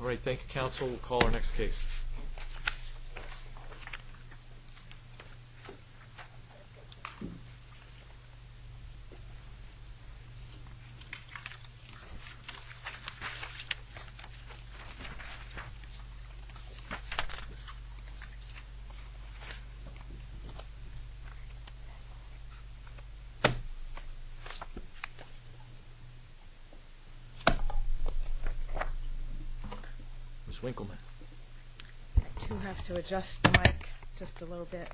Alright, thank you counsel. We'll call our next case. Ms. Winkleman. Ms. Winkleman. I do have to adjust the mic just a little bit.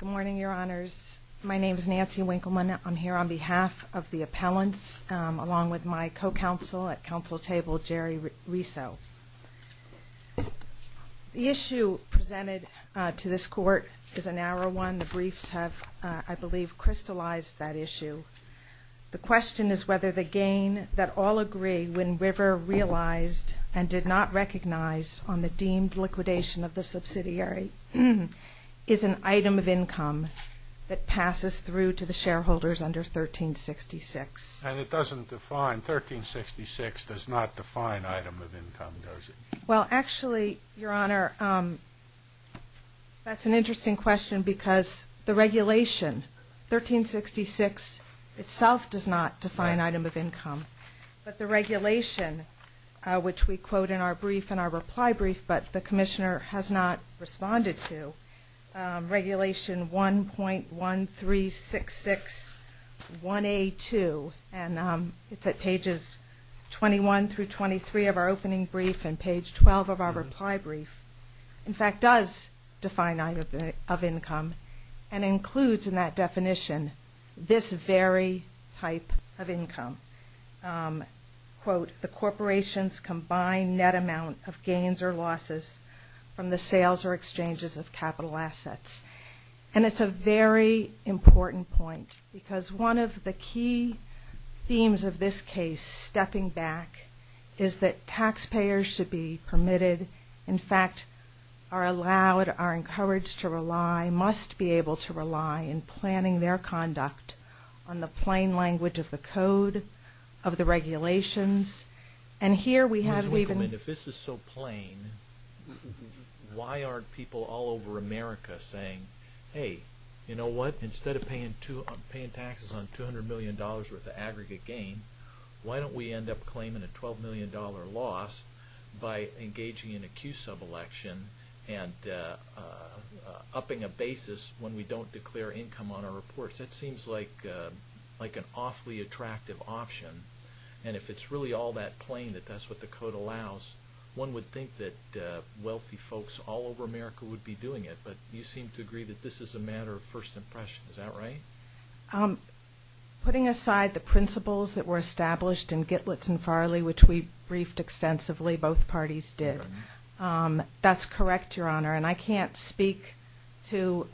Good morning your honors. My name is Nancy Winkleman. I'm here on behalf of the appellants along with my co-counsel at counsel table, Jerry Riso. The issue presented to this court is a narrow one. The briefs have, I believe, crystallized that issue. The question is whether the gain that all agree when River realized and did not recognize on the deemed liquidation of the subsidiary is an item of income that passes through to the shareholders under 1366. And it doesn't define, 1366 does not define item of income, does it? Well actually, your honor, that's an interesting question because the regulation, 1366, itself does not define item of income. But the regulation, which we quote in our brief, in our reply brief, but the commissioner has not responded to, regulation 1.1366.1A2, and it's at pages 21 through 23 of our opening brief and page 12 of our reply brief, in fact, does define item of income and includes in that definition this very type of income. Quote, the corporations combine net amount of gains or losses from the sales or exchanges of capital assets. And it's a very important point because one of the key themes of this case, stepping back, is that taxpayers should be permitted, in fact, are allowed, are encouraged to rely, must be able to rely in planning their conduct on the plain language of the code of the regulations. And here we have, we've been, if this is so plain, why aren't people all over America saying, hey, you know what, instead of paying taxes on $200 million worth of aggregate gain, why don't we end up claiming a $12 million loss by engaging in a Q sub-election and upping a basis when we don't declare income on our reports. That seems like an awfully attractive option. And if it's really all that plain that that's what the code allows, one would think that wealthy folks all over America would be doing it. But you seem to agree that this is a matter of first impression. Is that right? Putting aside the principles that were established in Gitlitz and Farley, which we briefed extensively, both parties did. That's correct, Your Honor. And I can't speak to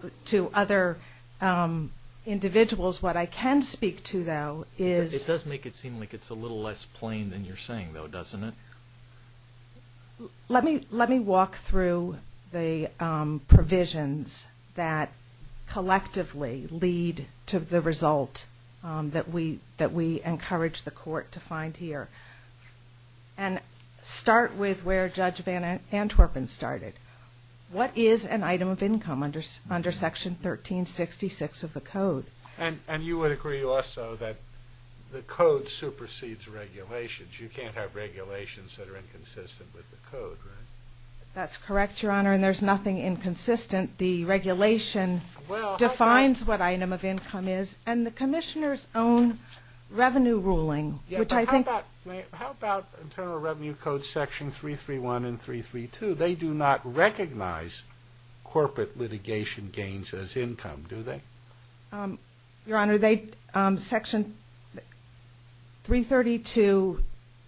other individuals. What I can speak to, though, is it does make it seem like it's a little less plain than you're saying, though, doesn't it? Let me walk through the provisions that collectively lead to the result that we encourage the court to find here. And start with where Judge Van Antwerpen started. What is an item of income under Section 1366 of the code? And you would agree also that the code supersedes regulations. You can't have regulations that are inconsistent with the code, right? That's correct, Your Honor. And there's nothing inconsistent. The regulation defines what item of income is. And the Commissioner's own revenue ruling, which I think How about Internal Revenue Code Section 331 and 332? They do not recognize corporate litigation gains as income, do they? Your Honor, Section 332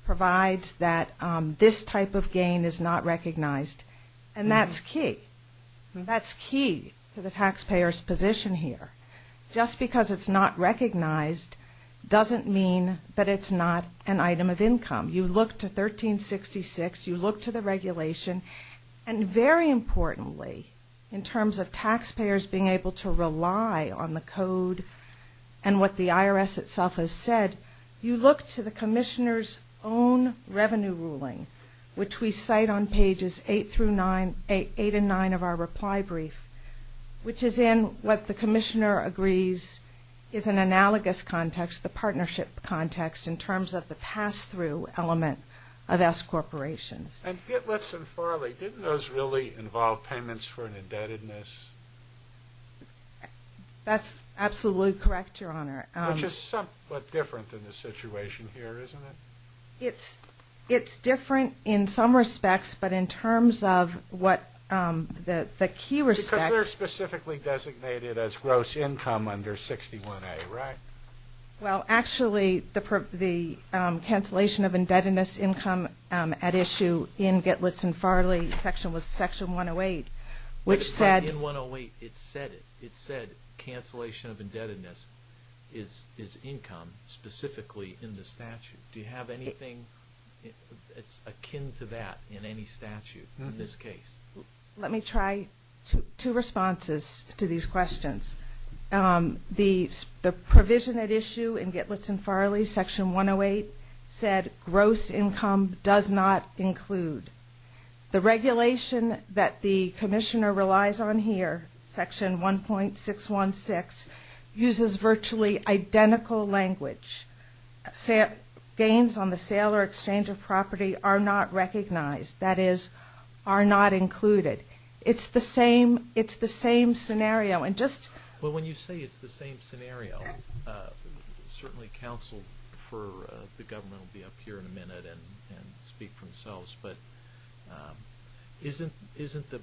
provides that this type of gain is not recognized. And that's key. That's key to the taxpayer's position here. Just because it's not recognized doesn't mean that it's not an item of income. You look to 1366. You look to the regulation. And very importantly, in terms of taxpayers being able to rely on the code and what the IRS itself has said, you look to the Commissioner's own revenue ruling, which we cite on pages 8 and 9 of our reply brief, which is in what the Commissioner agrees is an analogous context, the partnership context, in terms of the pass-through element of S-Corporations. And Gitlitz and Farley, didn't those really involve payments for an indebtedness? That's absolutely correct, Your Honor. Which is somewhat different than the situation here, isn't it? It's different in some respects, but in terms of what the key respect Because they're specifically designated as gross income under 61A, right? Well, actually, the cancellation of indebtedness income at issue in Gitlitz and Farley section was section 108, which said But in 108, it said it. It said cancellation of indebtedness is income specifically in the statute. Do you have anything that's akin to that in any statute in this case? Let me try two responses to these questions. The provision at issue in Gitlitz and Farley section 108 said gross income does not include. The regulation that the Commissioner relies on here, section 1.616, uses virtually identical language. Gains on the sale or exchange of property are not recognized. That is, are not included. It's the same scenario. But when you say it's the same scenario, certainly counsel for the government will be up here in a minute and speak for themselves, but isn't the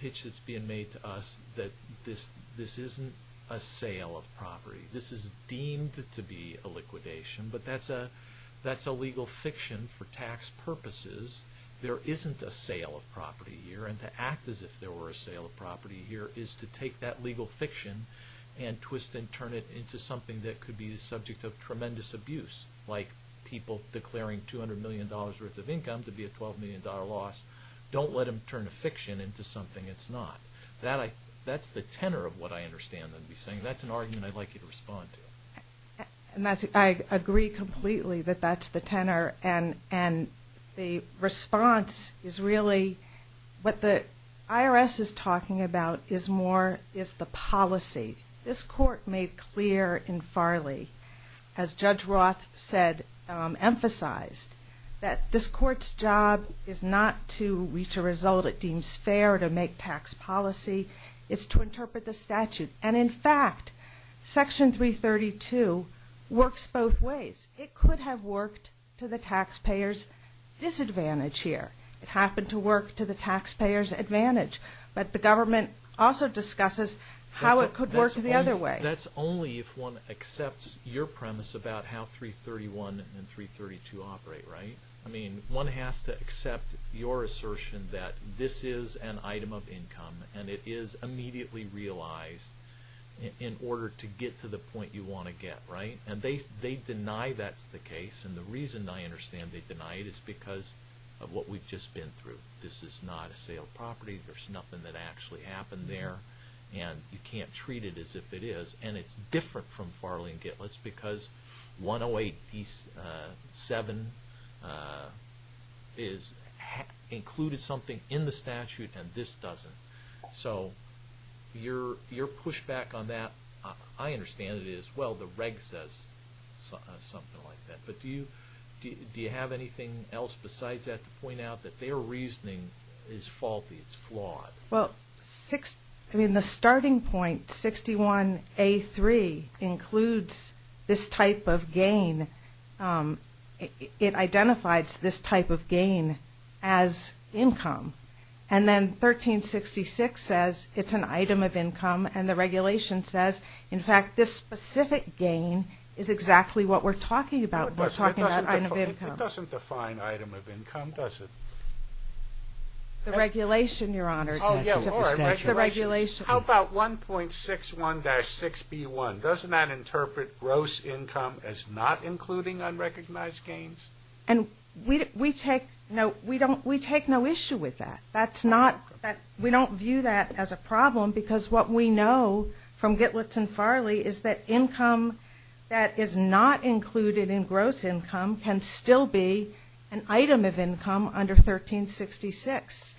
pitch that's being made to us that this isn't a sale of property. This is deemed to be a liquidation, but that's a legal fiction for tax purposes. There isn't a sale of property here, and to act as if there were a sale of property here is to take that legal fiction and twist and turn it into something that could be the subject of tremendous abuse, like people declaring $200 million worth of income to be a $12 million loss. Don't let them turn a fiction into something it's not. That's the tenor of what I understand them to be saying. That's an argument I'd like you to respond to. I agree completely that that's the tenor, and the response is really what the IRS is talking about is more is the policy. This Court made clear in Farley, as Judge Roth said emphasized, that this Court's job is not to reach a result it deems fair to make a tax policy. It's to interpret the statute, and in fact, Section 332 works both ways. It could have worked to the taxpayer's disadvantage here. It happened to work to the taxpayer's advantage, but the government also discusses how it could work the other way. That's only if one accepts your premise about how 331 and 332 operate, right? I mean, one has to accept your assertion that this is an item of income, and it is immediately realized in order to get to the point you want to get, right? They deny that's the case, and the reason I understand they deny it is because of what we've just been through. This is not a sale of property. There's nothing that actually happened there, and you can't treat it as if it is. It's different from Farley and Gitlitz because 108D7 included something in the statute, and this doesn't. So your pushback on that, I understand it as well. The reg says something like that, but do you have anything else besides that to point out that their reasoning is faulty, it's flawed? Well, the starting point, 61A3, includes this type of gain. It identifies this type of gain as income, and then 1366 says it's an item of income, and the regulation says, in fact, this specific gain is exactly what we're talking about when we're talking about item of income. It doesn't define item of income, does it? The regulation, Your Honors, mentions it. Oh, yeah, all right, regulation. The regulation. How about 1.61-6B1? Doesn't that interpret gross income as not including unrecognized gains? And we take no issue with that. We don't view that as a problem because what we know from Gitlitz and Farley is that income that is not included in gross income can still be an item of income under 1366.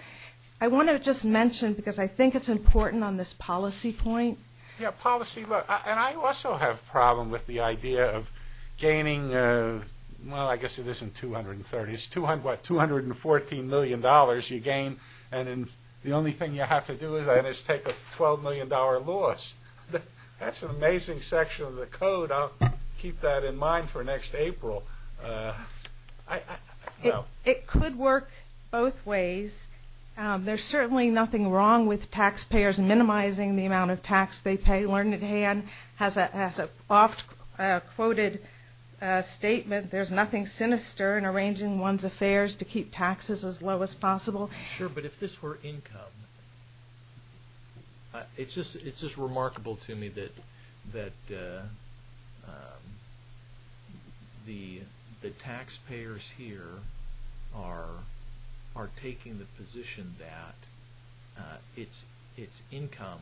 I want to just mention, because I think it's important on this policy point. Yeah, policy. And I also have a problem with the idea of gaining, well, I guess it isn't 230, it's what, $214 million you gain, and the only thing you have to do is take a $12 million loss. That's an amazing section of the code. I'll keep that in mind for next April. It could work both ways. There's certainly nothing wrong with taxpayers minimizing the amount of tax they pay learned at hand. As an oft-quoted statement, there's nothing sinister in arranging one's affairs to keep taxes as low as possible. Sure, but if this were income, it's just remarkable to me that, you know, I don't think it would be a problem. The taxpayers here are taking the position that it's income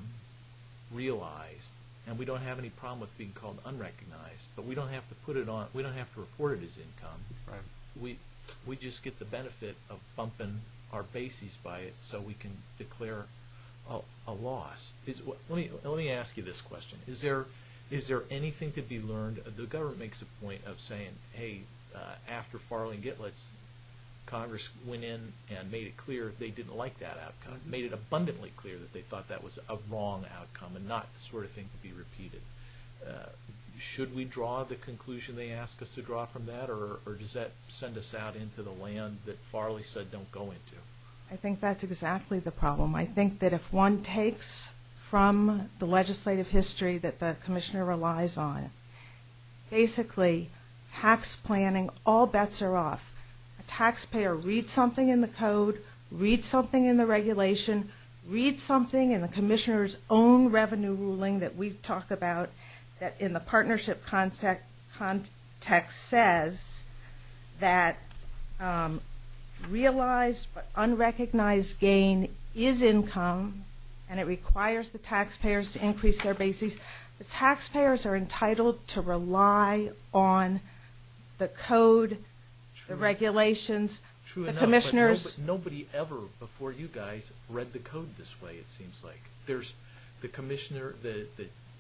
realized, and we don't have any problem with being called unrecognized, but we don't have to put it on, we don't have to report it as income. We just get the benefit of bumping our bases by it so we can declare a loss. Let me ask you this question. Is there anything to be said for saying, hey, after Farley and Gitlitz, Congress went in and made it clear they didn't like that outcome, made it abundantly clear that they thought that was a wrong outcome and not the sort of thing to be repeated. Should we draw the conclusion they ask us to draw from that, or does that send us out into the land that Farley said don't go into? I think that's exactly the problem. I think that if one takes from the legislative history that the Commissioner relies on, basically tax planning, all bets are off. A taxpayer reads something in the code, reads something in the regulation, reads something in the Commissioner's own revenue ruling that we talk about that in the partnership context says that realized but unrecognized gain is income, and it requires the taxpayers to increase their bases. The taxpayers are entitled to rely on the code, the regulations, the Commissioners. Nobody ever before you guys read the code this way, it seems like. There's the Commissioner, the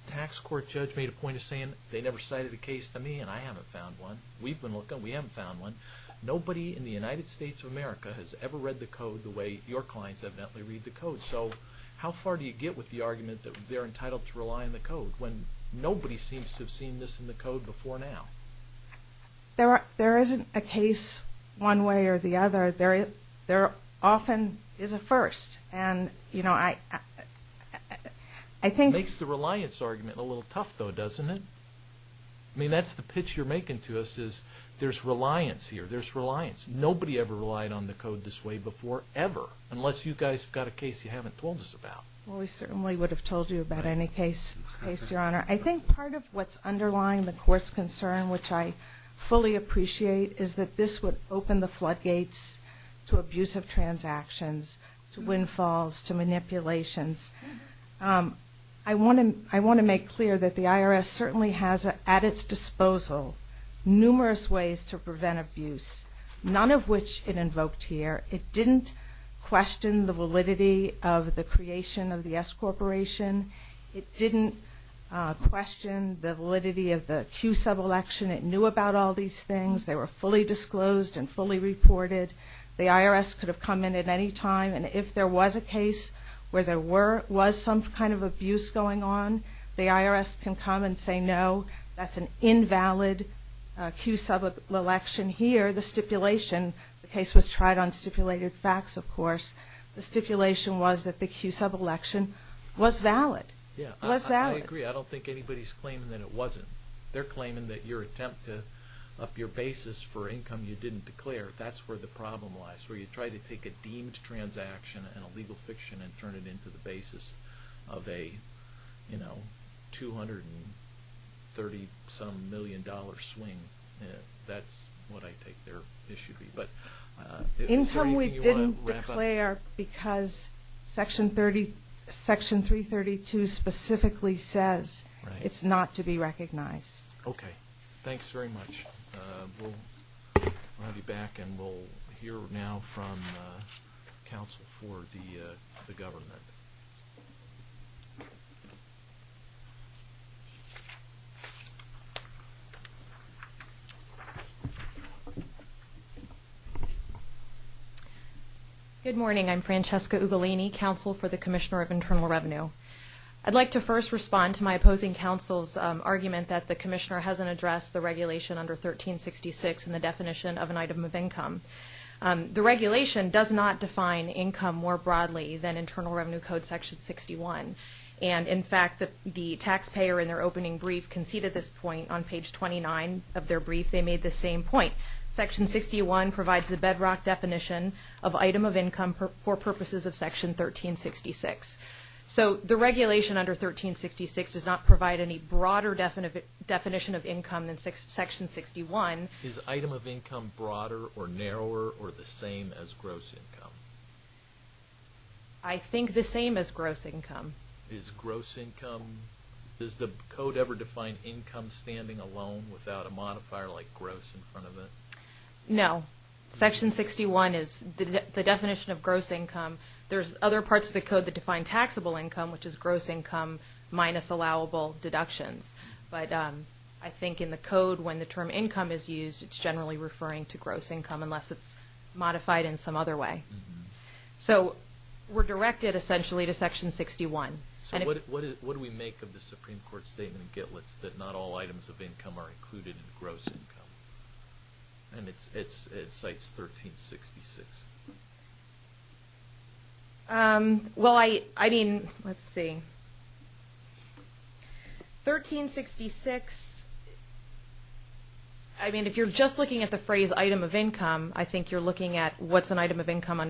tax court judge made a point of saying they never cited a case to me, and I haven't found one. We've been looking. We haven't found one. Nobody in the United States of America has ever read the code the way your clients evidently read the code. So how far do you get with the argument that they're entitled to rely on the code, when nobody seems to have seen this in the code before now? There isn't a case one way or the other. There often is a first, and you know, I think... Makes the reliance argument a little tough, though, doesn't it? I mean, that's the pitch you're making to us is there's reliance here. There's reliance. Nobody ever relied on the I certainly would have told you about any case, Your Honor. I think part of what's underlying the Court's concern, which I fully appreciate, is that this would open the floodgates to abuse of transactions, to windfalls, to manipulations. I want to make clear that the IRS certainly has at its disposal numerous ways to prevent abuse, none of which it invoked here. It didn't question the validity of the creation of the S Corporation. It didn't question the validity of the Q sub-election. It knew about all these things. They were fully disclosed and fully reported. The IRS could have come in at any time, and if there was a case where there were some kind of abuse going on, the IRS can come and say, no, that's an invalid Q sub-election here. The stipulation, the case was tried on stipulated facts, of course. The stipulation was that the Q sub-election was valid. Yeah, I agree. I don't think anybody's claiming that it wasn't. They're claiming that your attempt to up your basis for income you didn't declare, that's where the problem lies, where you try to take a deemed transaction and a legal fiction and turn it into the basis of a $230-some million swing. That's what I take their issue to be. Income we didn't declare because Section 332 specifically says it's not to be recognized. Okay. Thanks very much. We'll have you back and we'll hear now from counsel for the government. Good morning. I'm Francesca Ugolini, counsel for the Commissioner of Internal Revenue. I'd like to first respond to my opposing counsel's argument that the Commissioner hasn't addressed the regulation under 1366 and the definition of an item of income. The regulation does not define income more broadly than Internal Revenue Code Section 61. And, in fact, the taxpayer in their opening brief conceded this point on page 29 of their brief. They made the same point. Section 61 provides the bedrock definition of item of income for purposes of Section 1366. So the regulation under 1366 does not provide any broader definition of income than Section 61. Is item of income broader or narrower or the same as gross income? I think the same as gross income. Is gross income, does the code ever define income standing alone without a modifier like gross in front of it? No. Section 61 is the definition of gross income. There's other parts of the code that define taxable income, which is gross income minus allowable deductions. But I think in the code, when the term income is used, it's generally referring to gross income unless it's modified in some other way. So we're directed essentially to Section 61. What do we make of the Supreme Court's statement in Gitlitz that not all items of income are included in gross income? And it cites 1366. Well, I mean, let's see. 1366, I mean if you're just looking at the phrase item of income, I think you're looking at what's an item of income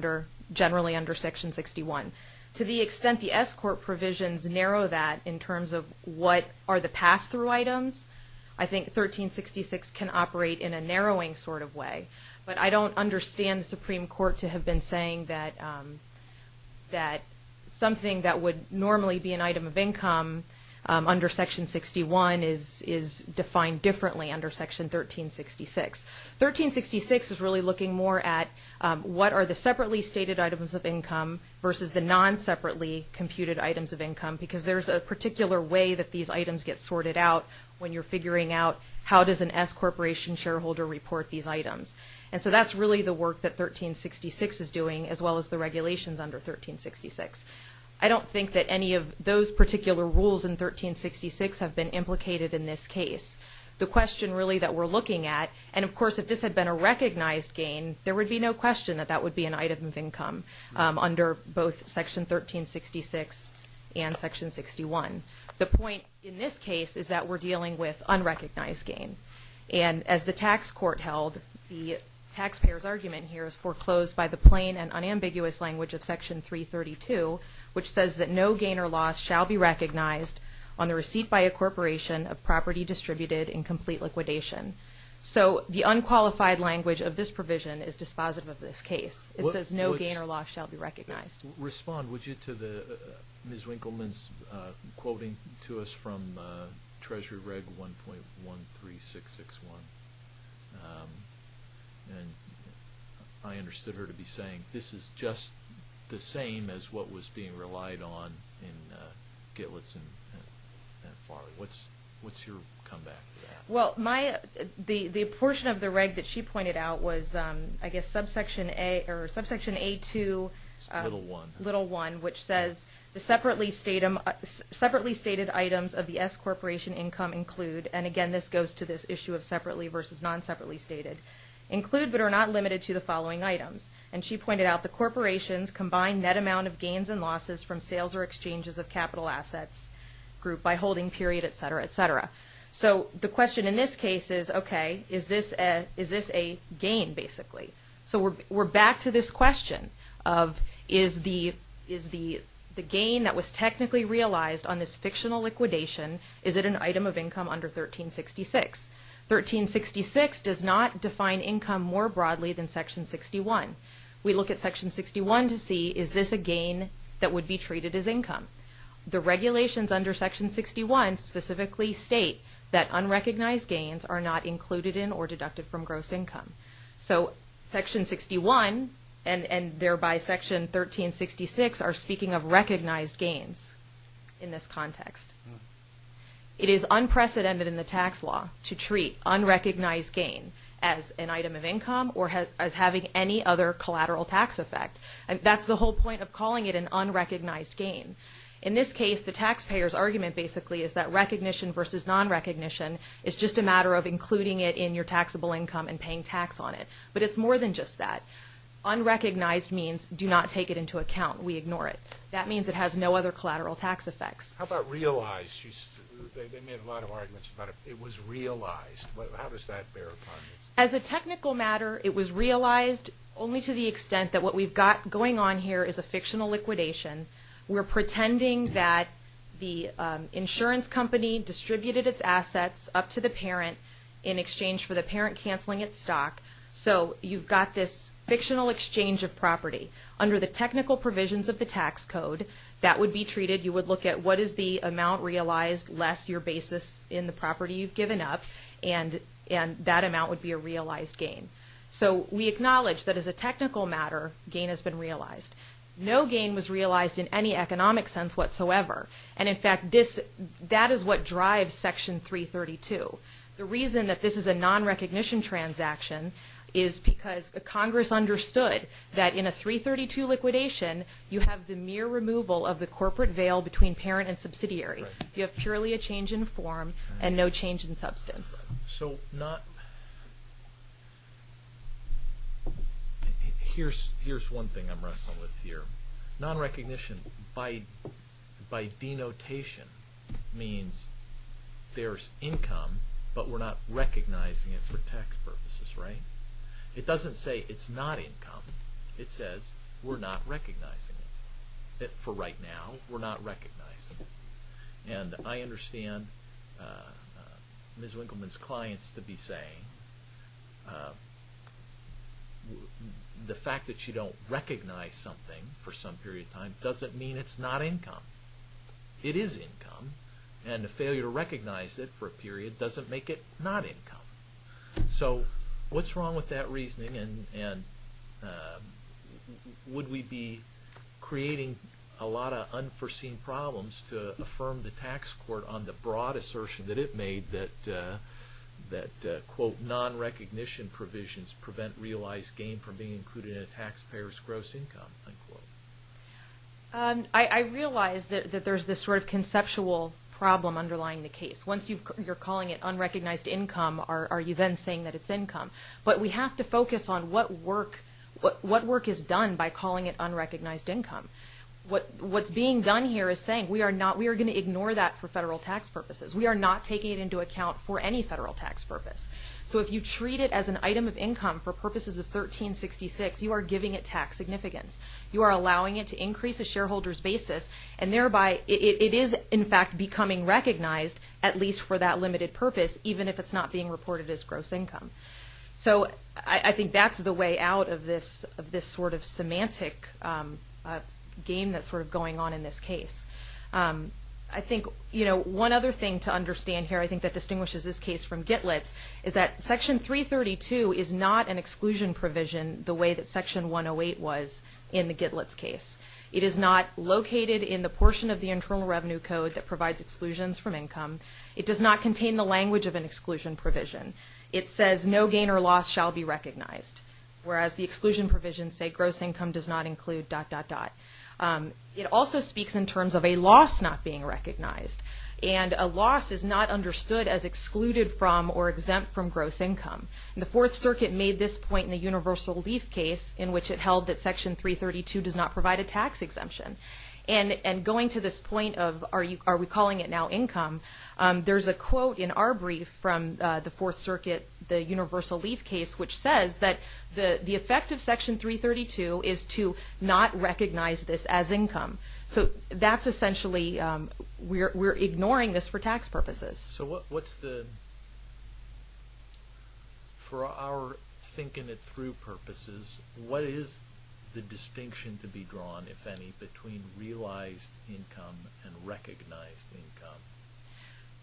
generally under Section 61. To the extent the S Court provisions narrow that in terms of what are the pass-through items, I think 1366 can operate in a narrowing sort of way. But I don't understand the Supreme Court to have been saying that something that would normally be an item of income under Section 61 is defined differently under Section 1366. 1366 is really looking more at what are the separately stated items of income versus the non-separately computed items of income because there's a particular way that these items get sorted out when you're figuring out how does an S Corporation shareholder report these items. And so that's really the way that 1366 is doing as well as the regulations under 1366. I don't think that any of those particular rules in 1366 have been implicated in this case. The question really that we're looking at, and of course if this had been a recognized gain, there would be no question that that would be an item of income under both Section 1366 and Section 61. The point in this case is that we're dealing with unrecognized gain. And as the tax court held, the taxpayer's account were closed by the plain and unambiguous language of Section 332, which says that no gain or loss shall be recognized on the receipt by a corporation of property distributed in complete liquidation. So the unqualified language of this provision is dispositive of this case. It says no gain or loss shall be recognized. Respond would you to Ms. Winkleman's quoting to us from Treasury Reg 1.13661. And I understand that you understood her to be saying this is just the same as what was being relied on in Gitlitz and Farley. What's your comeback to that? The portion of the reg that she pointed out was, I guess, subsection A2, little 1, which says the separately stated items of the S corporation income include, and again this goes to this issue of separately versus non-separately stated, include but are not limited to the following items. And she pointed out the corporations combine net amount of gains and losses from sales or exchanges of capital assets group by holding period, et cetera, et cetera. So the question in this case is, okay, is this a gain basically? So we're back to this question of is the gain that was technically realized on this fictional liquidation, is it an item of income under 1366? 1366 does not define income more broadly than section 61. We look at section 61 to see is this a gain that would be treated as income? The regulations under section 61 specifically state that unrecognized gains are not included in or deducted from gross income. So section 61 and thereby section 1366 are speaking of it is unprecedented in the tax law to treat unrecognized gain as an item of income or as having any other collateral tax effect. That's the whole point of calling it an unrecognized gain. In this case, the taxpayer's argument basically is that recognition versus non-recognition is just a matter of including it in your taxable income and paying tax on it. But it's more than just that. Unrecognized means do not take it into account. We ignore it. That means it has no other collateral tax effects. How about realized? They made a lot of arguments about it. It was realized. How does that bear upon this? As a technical matter, it was realized only to the extent that what we've got going on here is a fictional liquidation. We're pretending that the insurance company distributed its assets up to the parent in exchange for the parent canceling its stock. So you've got this fictional exchange of property. Under the technical provisions of the tax code, that would be treated. You would look at what is the amount realized less your basis in the property you've given up. And that amount would be a realized gain. So we acknowledge that as a technical matter, gain has been realized. No gain was realized in any economic sense whatsoever. And in fact, that is what drives Section 332. The reason that this is a non-recognition transaction is because Congress understood that in a 332 liquidation, you have the mere removal of the corporate veil between parent and subsidiary. You have purely a change in form and no change in substance. So here's one thing I'm wrestling with here. Non-recognition by denotation means there's recognizing it for tax purposes, right? It doesn't say it's not income. It says we're not recognizing it. For right now, we're not recognizing it. And I understand Ms. Winkleman's clients to be saying the fact that you don't recognize something for some period of time doesn't mean it's not income. It is income. And the failure to recognize it for a period of time doesn't make it not income. So what's wrong with that reasoning? And would we be creating a lot of unforeseen problems to affirm the tax court on the broad assertion that it made that, quote, non-recognition provisions prevent realized gain from being included in a taxpayer's gross income, unquote? I realize that there's this sort of conceptual problem underlying the case. Once you're calling it unrecognized income, are you then saying that it's income? But we have to focus on what work is done by calling it unrecognized income. What's being done here is saying we are going to ignore that for federal tax purposes. We are not taking it into account for any federal tax purpose. So if you treat it as an item of income for purposes of 1366, you are giving it tax significance. You are allowing it to increase a shareholder's basis. And So I think that's the way out of this sort of semantic game that's sort of going on in this case. I think, you know, one other thing to understand here, I think, that distinguishes this case from Gitlet's is that Section 332 is not an exclusion provision the way that Section 108 was in the Gitlet's case. It is not located in the portion of the Internal Revenue Code that provides exclusions from income. It does not contain the language of an exclusion provision. It says no gain or loss shall be recognized. Whereas the exclusion provisions say gross income does not include dot, dot, dot. It also speaks in terms of a loss not being recognized. And a loss is not understood as excluded from or exempt from gross income. The Fourth Circuit made this point in the Universal Leaf case in which it held that are we calling it now income? There's a quote in our brief from the Fourth Circuit, the Universal Leaf case, which says that the effect of Section 332 is to not recognize this as income. So that's essentially, we're ignoring this for tax purposes. So what's the, for our thinking it through purposes, what is the distinction to be drawn, if any, between realized income and recognized income?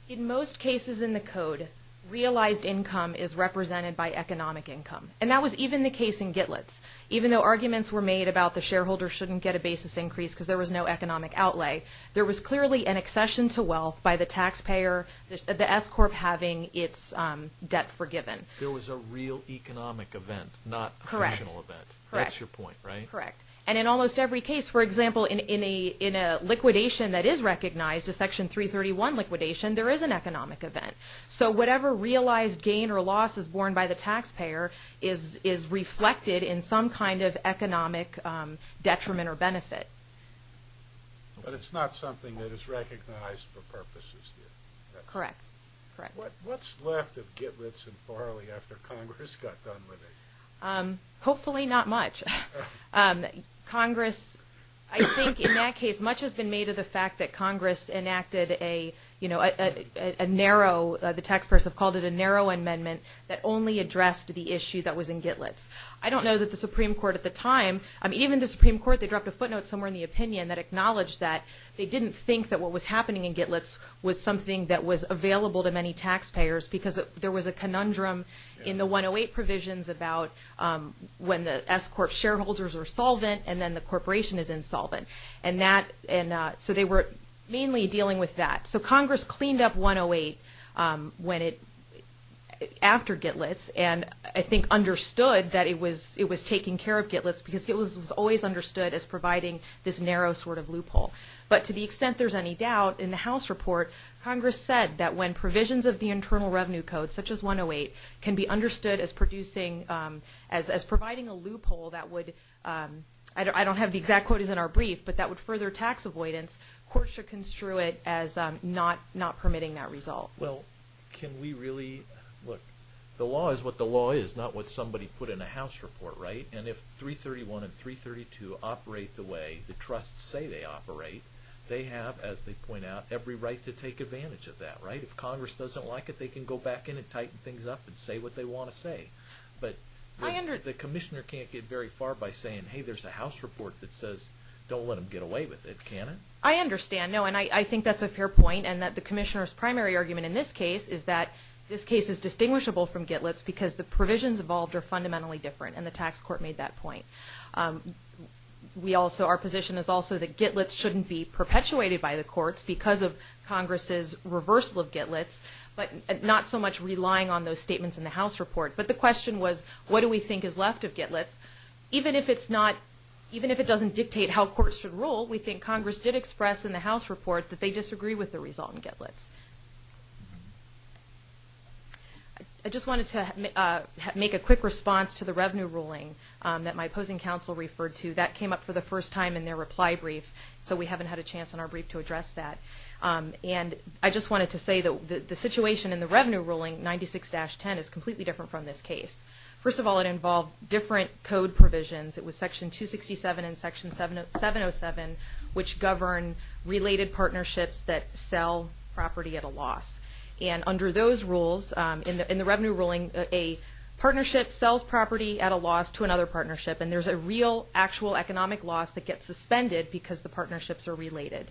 In most cases in the Code, realized income is represented by economic income. And that was even the case in Gitlet's. Even though arguments were made about the shareholder shouldn't get a basis increase because there was no economic outlay, there was clearly an accession to wealth by the taxpayer, the S-Corp having its debt forgiven. There was a real economic event, not a fictional event. Correct. That's your point, right? Correct. And in almost every case, for example, in a liquidation that is recognized, a Section 331 liquidation, there is an economic event. So whatever realized gain or loss is borne by the taxpayer is reflected in some kind of economic detriment or benefit. But it's not something that is recognized for purposes here. Correct. Correct. What's left of Gitlet's and Farley after Congress got done with it? Hopefully not much. Congress, I think in that case, much has been made of the fact that Congress enacted a narrow, the taxpayers have called it a narrow amendment, that only addressed the issue that was in Gitlet's. I don't know that the Supreme Court at the time, even the Supreme Court, they dropped a footnote somewhere in the opinion that acknowledged that they didn't think that what was happening in Gitlet's was something that was available to many taxpayers because there was a conundrum in the 108 provisions about when the S-Corp shareholders are solvent and then the corporation is insolvent. And so they were mainly dealing with that. So Congress cleaned up 108 after Gitlet's and I think understood that it was taking care of Gitlet's because it was always understood as providing this narrow sort of loophole. But to the extent there's any doubt, in the House report, Congress said that when provisions of the Internal Revenue Code, such as 108, can be understood as producing, as providing a loophole that would, I don't have the exact quotas in our brief, but that would further tax avoidance, courts should construe it as not permitting that result. Well, can we really, look, the law is what the law is, not what somebody put in a House report, right? And if 331 and 332 operate the way the trusts say they operate, they have, as they point out, every right to take advantage of that, right? If Congress doesn't like it, they can go back in and tighten things up and say what they want to say. But the Commissioner can't get very far by saying, hey, there's a House report that says don't let them get away with it, can it? I understand, no, and I think that's a fair point and that the Commissioner's primary argument in this case is that this case is distinguishable from Gitlet's because the provisions involved are fundamentally different and the tax court made that point. We also, our position is also that Gitlet's shouldn't be perpetuated by the courts because of Congress's reversal of Gitlet's, but not so much relying on those statements in the House report. But the question was, what do we think is left of Gitlet's? Even if it's not, even if it doesn't dictate how courts should rule, we think Congress did express in the House report that they disagree with the result in Gitlet's. I just wanted to make a quick response to the revenue ruling that my opposing counsel referred to. That came up for the first time in their reply brief, so we haven't had a chance in our brief to address that. And I just wanted to say that the situation in the revenue ruling, 96-10, is completely different from this case. First of all, it involved different code provisions. It was Section 267 and Section 707, which govern related partnerships that sell property at a loss. And under those rules, in the revenue ruling, a partnership sells property at a loss to another partnership, and there's a real actual economic loss that gets suspended because the partnerships are related.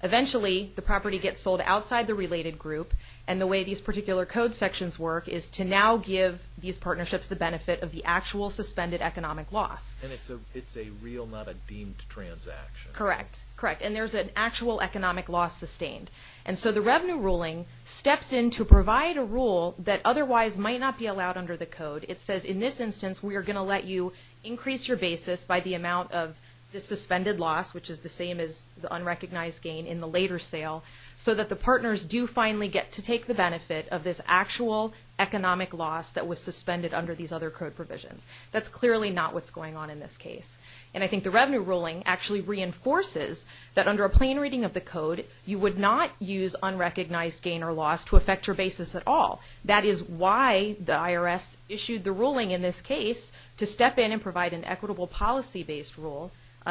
Eventually, the property gets sold outside the related group, and the way these particular code sections work is to now give these partnerships the benefit of the actual suspended economic loss. And it's a real, not a deemed transaction. Correct. Correct. And there's an actual economic loss sustained. And so the revenue ruling steps in to provide a rule that otherwise might not be allowed under the code. It says, in this instance, we are going to let you increase your basis by the amount of the suspended loss, which is the same as the unrecognized gain in the later sale, so that the partners do finally get to take the benefit of this actual economic loss that was suspended under these other code provisions. That's clearly not what's going on in this case. And I think the revenue ruling actually reinforces that under a plain reading of the code, you would not use unrecognized gain or loss to affect your basis at all. That is why the IRS issued the ruling in this case to step in and provide an equitable policy-based rule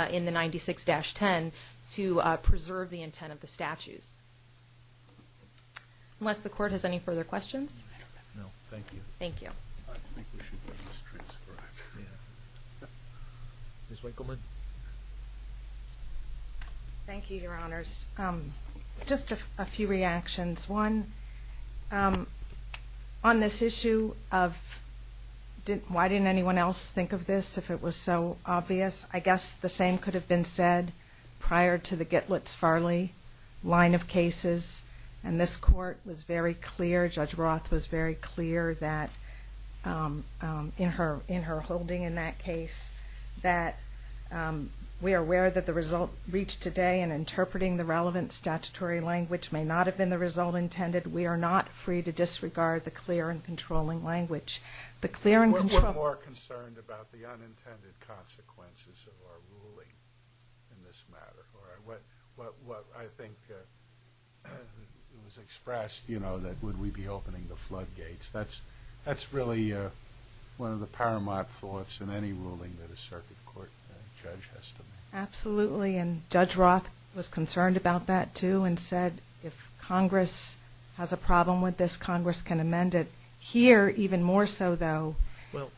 in the 96-10 to preserve the intent of the statutes. Unless the Court has any further questions? Ms. Winkleman? Thank you, Your Honors. Just a few reactions. One, on this issue of why didn't anyone else think of this if it was so obvious? I guess the same could have been said prior to the Gitlitz-Farley line of cases. And this Court was very clear, Judge Roth was very clear that in her holding in that case, that we are aware that the result reached today in interpreting the relevant statutory language may not have been the result intended. We are not free to disregard the clear and controlling language. We're more concerned about the unintended consequences of our ruling in this matter. What I think was expressed, you know, that would we be opening the floodgates, that's really one of the paramount thoughts in any ruling that a circuit court judge has to make. Absolutely, and Judge Roth was concerned about that, too, and said if Congress has a problem with this, Congress can amend it. Here, even more so, though... Well,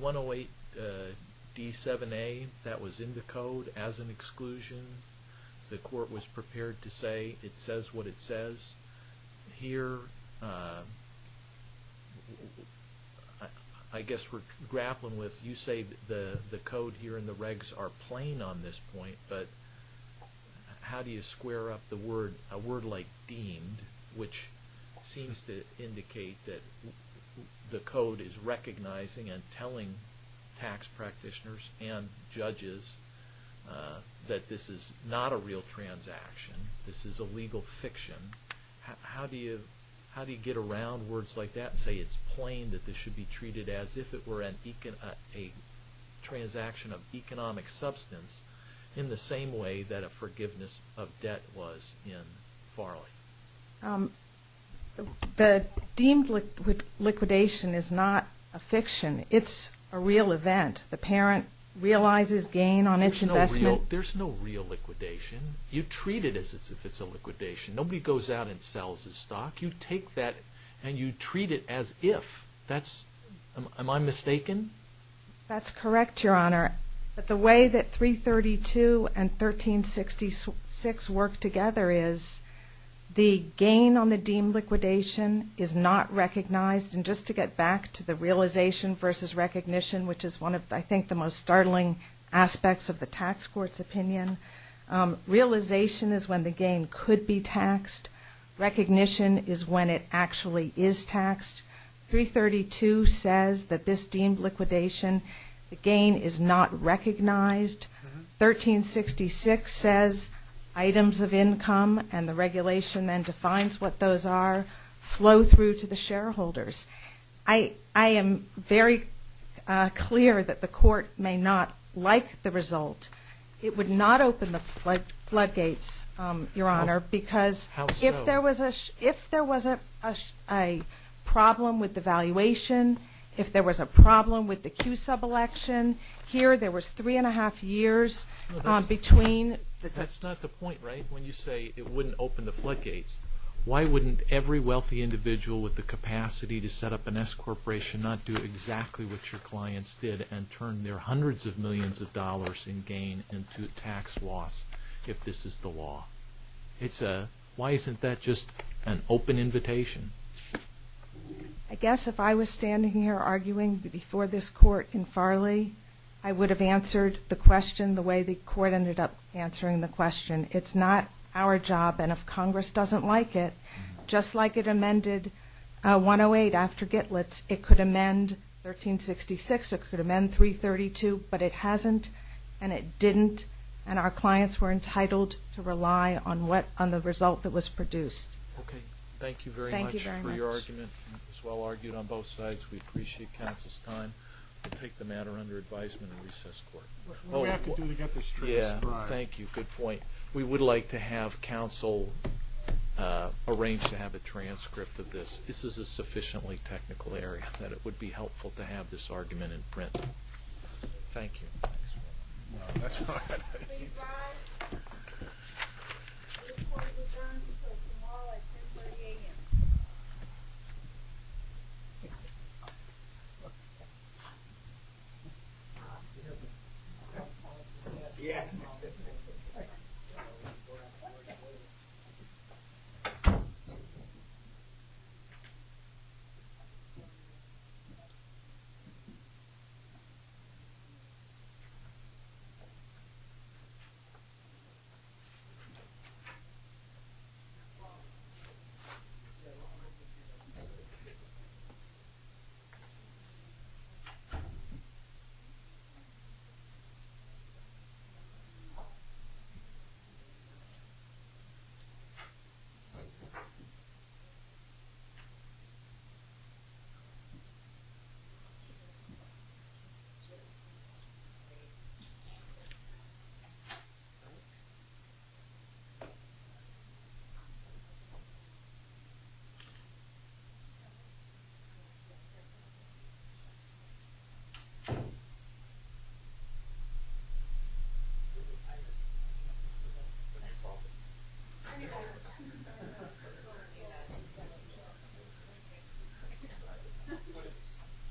108D7A, that was in the Code as an exclusion. The Court was prepared to say it says what it says. Here, I guess we're grappling with, you say the Code here and the regs are plain on this point, but how do you square up the word, a word like deemed, which seems to indicate that the Code is recognizing and telling tax practitioners and judges that this is not a real transaction, this is a legal fiction, how do you get around words like that and say it's plain that this should be treated as if it were a transaction of tax? The deemed liquidation is not a fiction. It's a real event. The parent realizes gain on its investment. There's no real liquidation. You treat it as if it's a liquidation. Nobody goes out and sells a stock. You take that and you treat it as if. Am I mistaken? That's correct, Your Honor, but the way that 332 and 1366 work together is the gain on the deemed liquidation is not recognized, and just to get back to the realization versus recognition, which is one of, I think, the most startling aspects of the tax court's opinion, realization is when the gain could be taxed. Recognition is when it actually is taxed. 332 says that this deemed liquidation, the gain is not recognized. 1366 says items of income and the regulation then defines what those are flow through to the shareholders. I am very clear that the court may not like the result. It would not open the floodgates, Your Honor, because if there was a problem with the valuation, if there was a problem with the Q sub-election, here there was 3 1⁄2 years between the two. That's not the point, right, when you say it wouldn't open the floodgates. Why wouldn't every wealthy individual with the capacity to set up an S corporation not do exactly what your clients did and turn their hundreds of millions of dollars in gain into tax loss if this is the law? Why isn't that just an open invitation? I guess if I was standing here arguing before this court in Farley, I would have answered the question the way the court ended up answering the question. It's not our job and if Congress doesn't like it, just like it amended 108 after Gitlitz, it could amend 1366, it could amend 332, but it hasn't and it didn't and our clients were entitled to rely on the result that was produced. Okay, thank you very much for your argument. It was well argued on both sides. We appreciate counsel's time. We'll take the matter under advisement in recess court. What do we have to do to get this trust, Brian? Thank you, good point. We would like to have counsel arrange to have a transcript of this. This is a sufficiently technical area that it would be helpful to have this argument in print. Thank you. We'll call at 10.30am. 10.30am 10.30am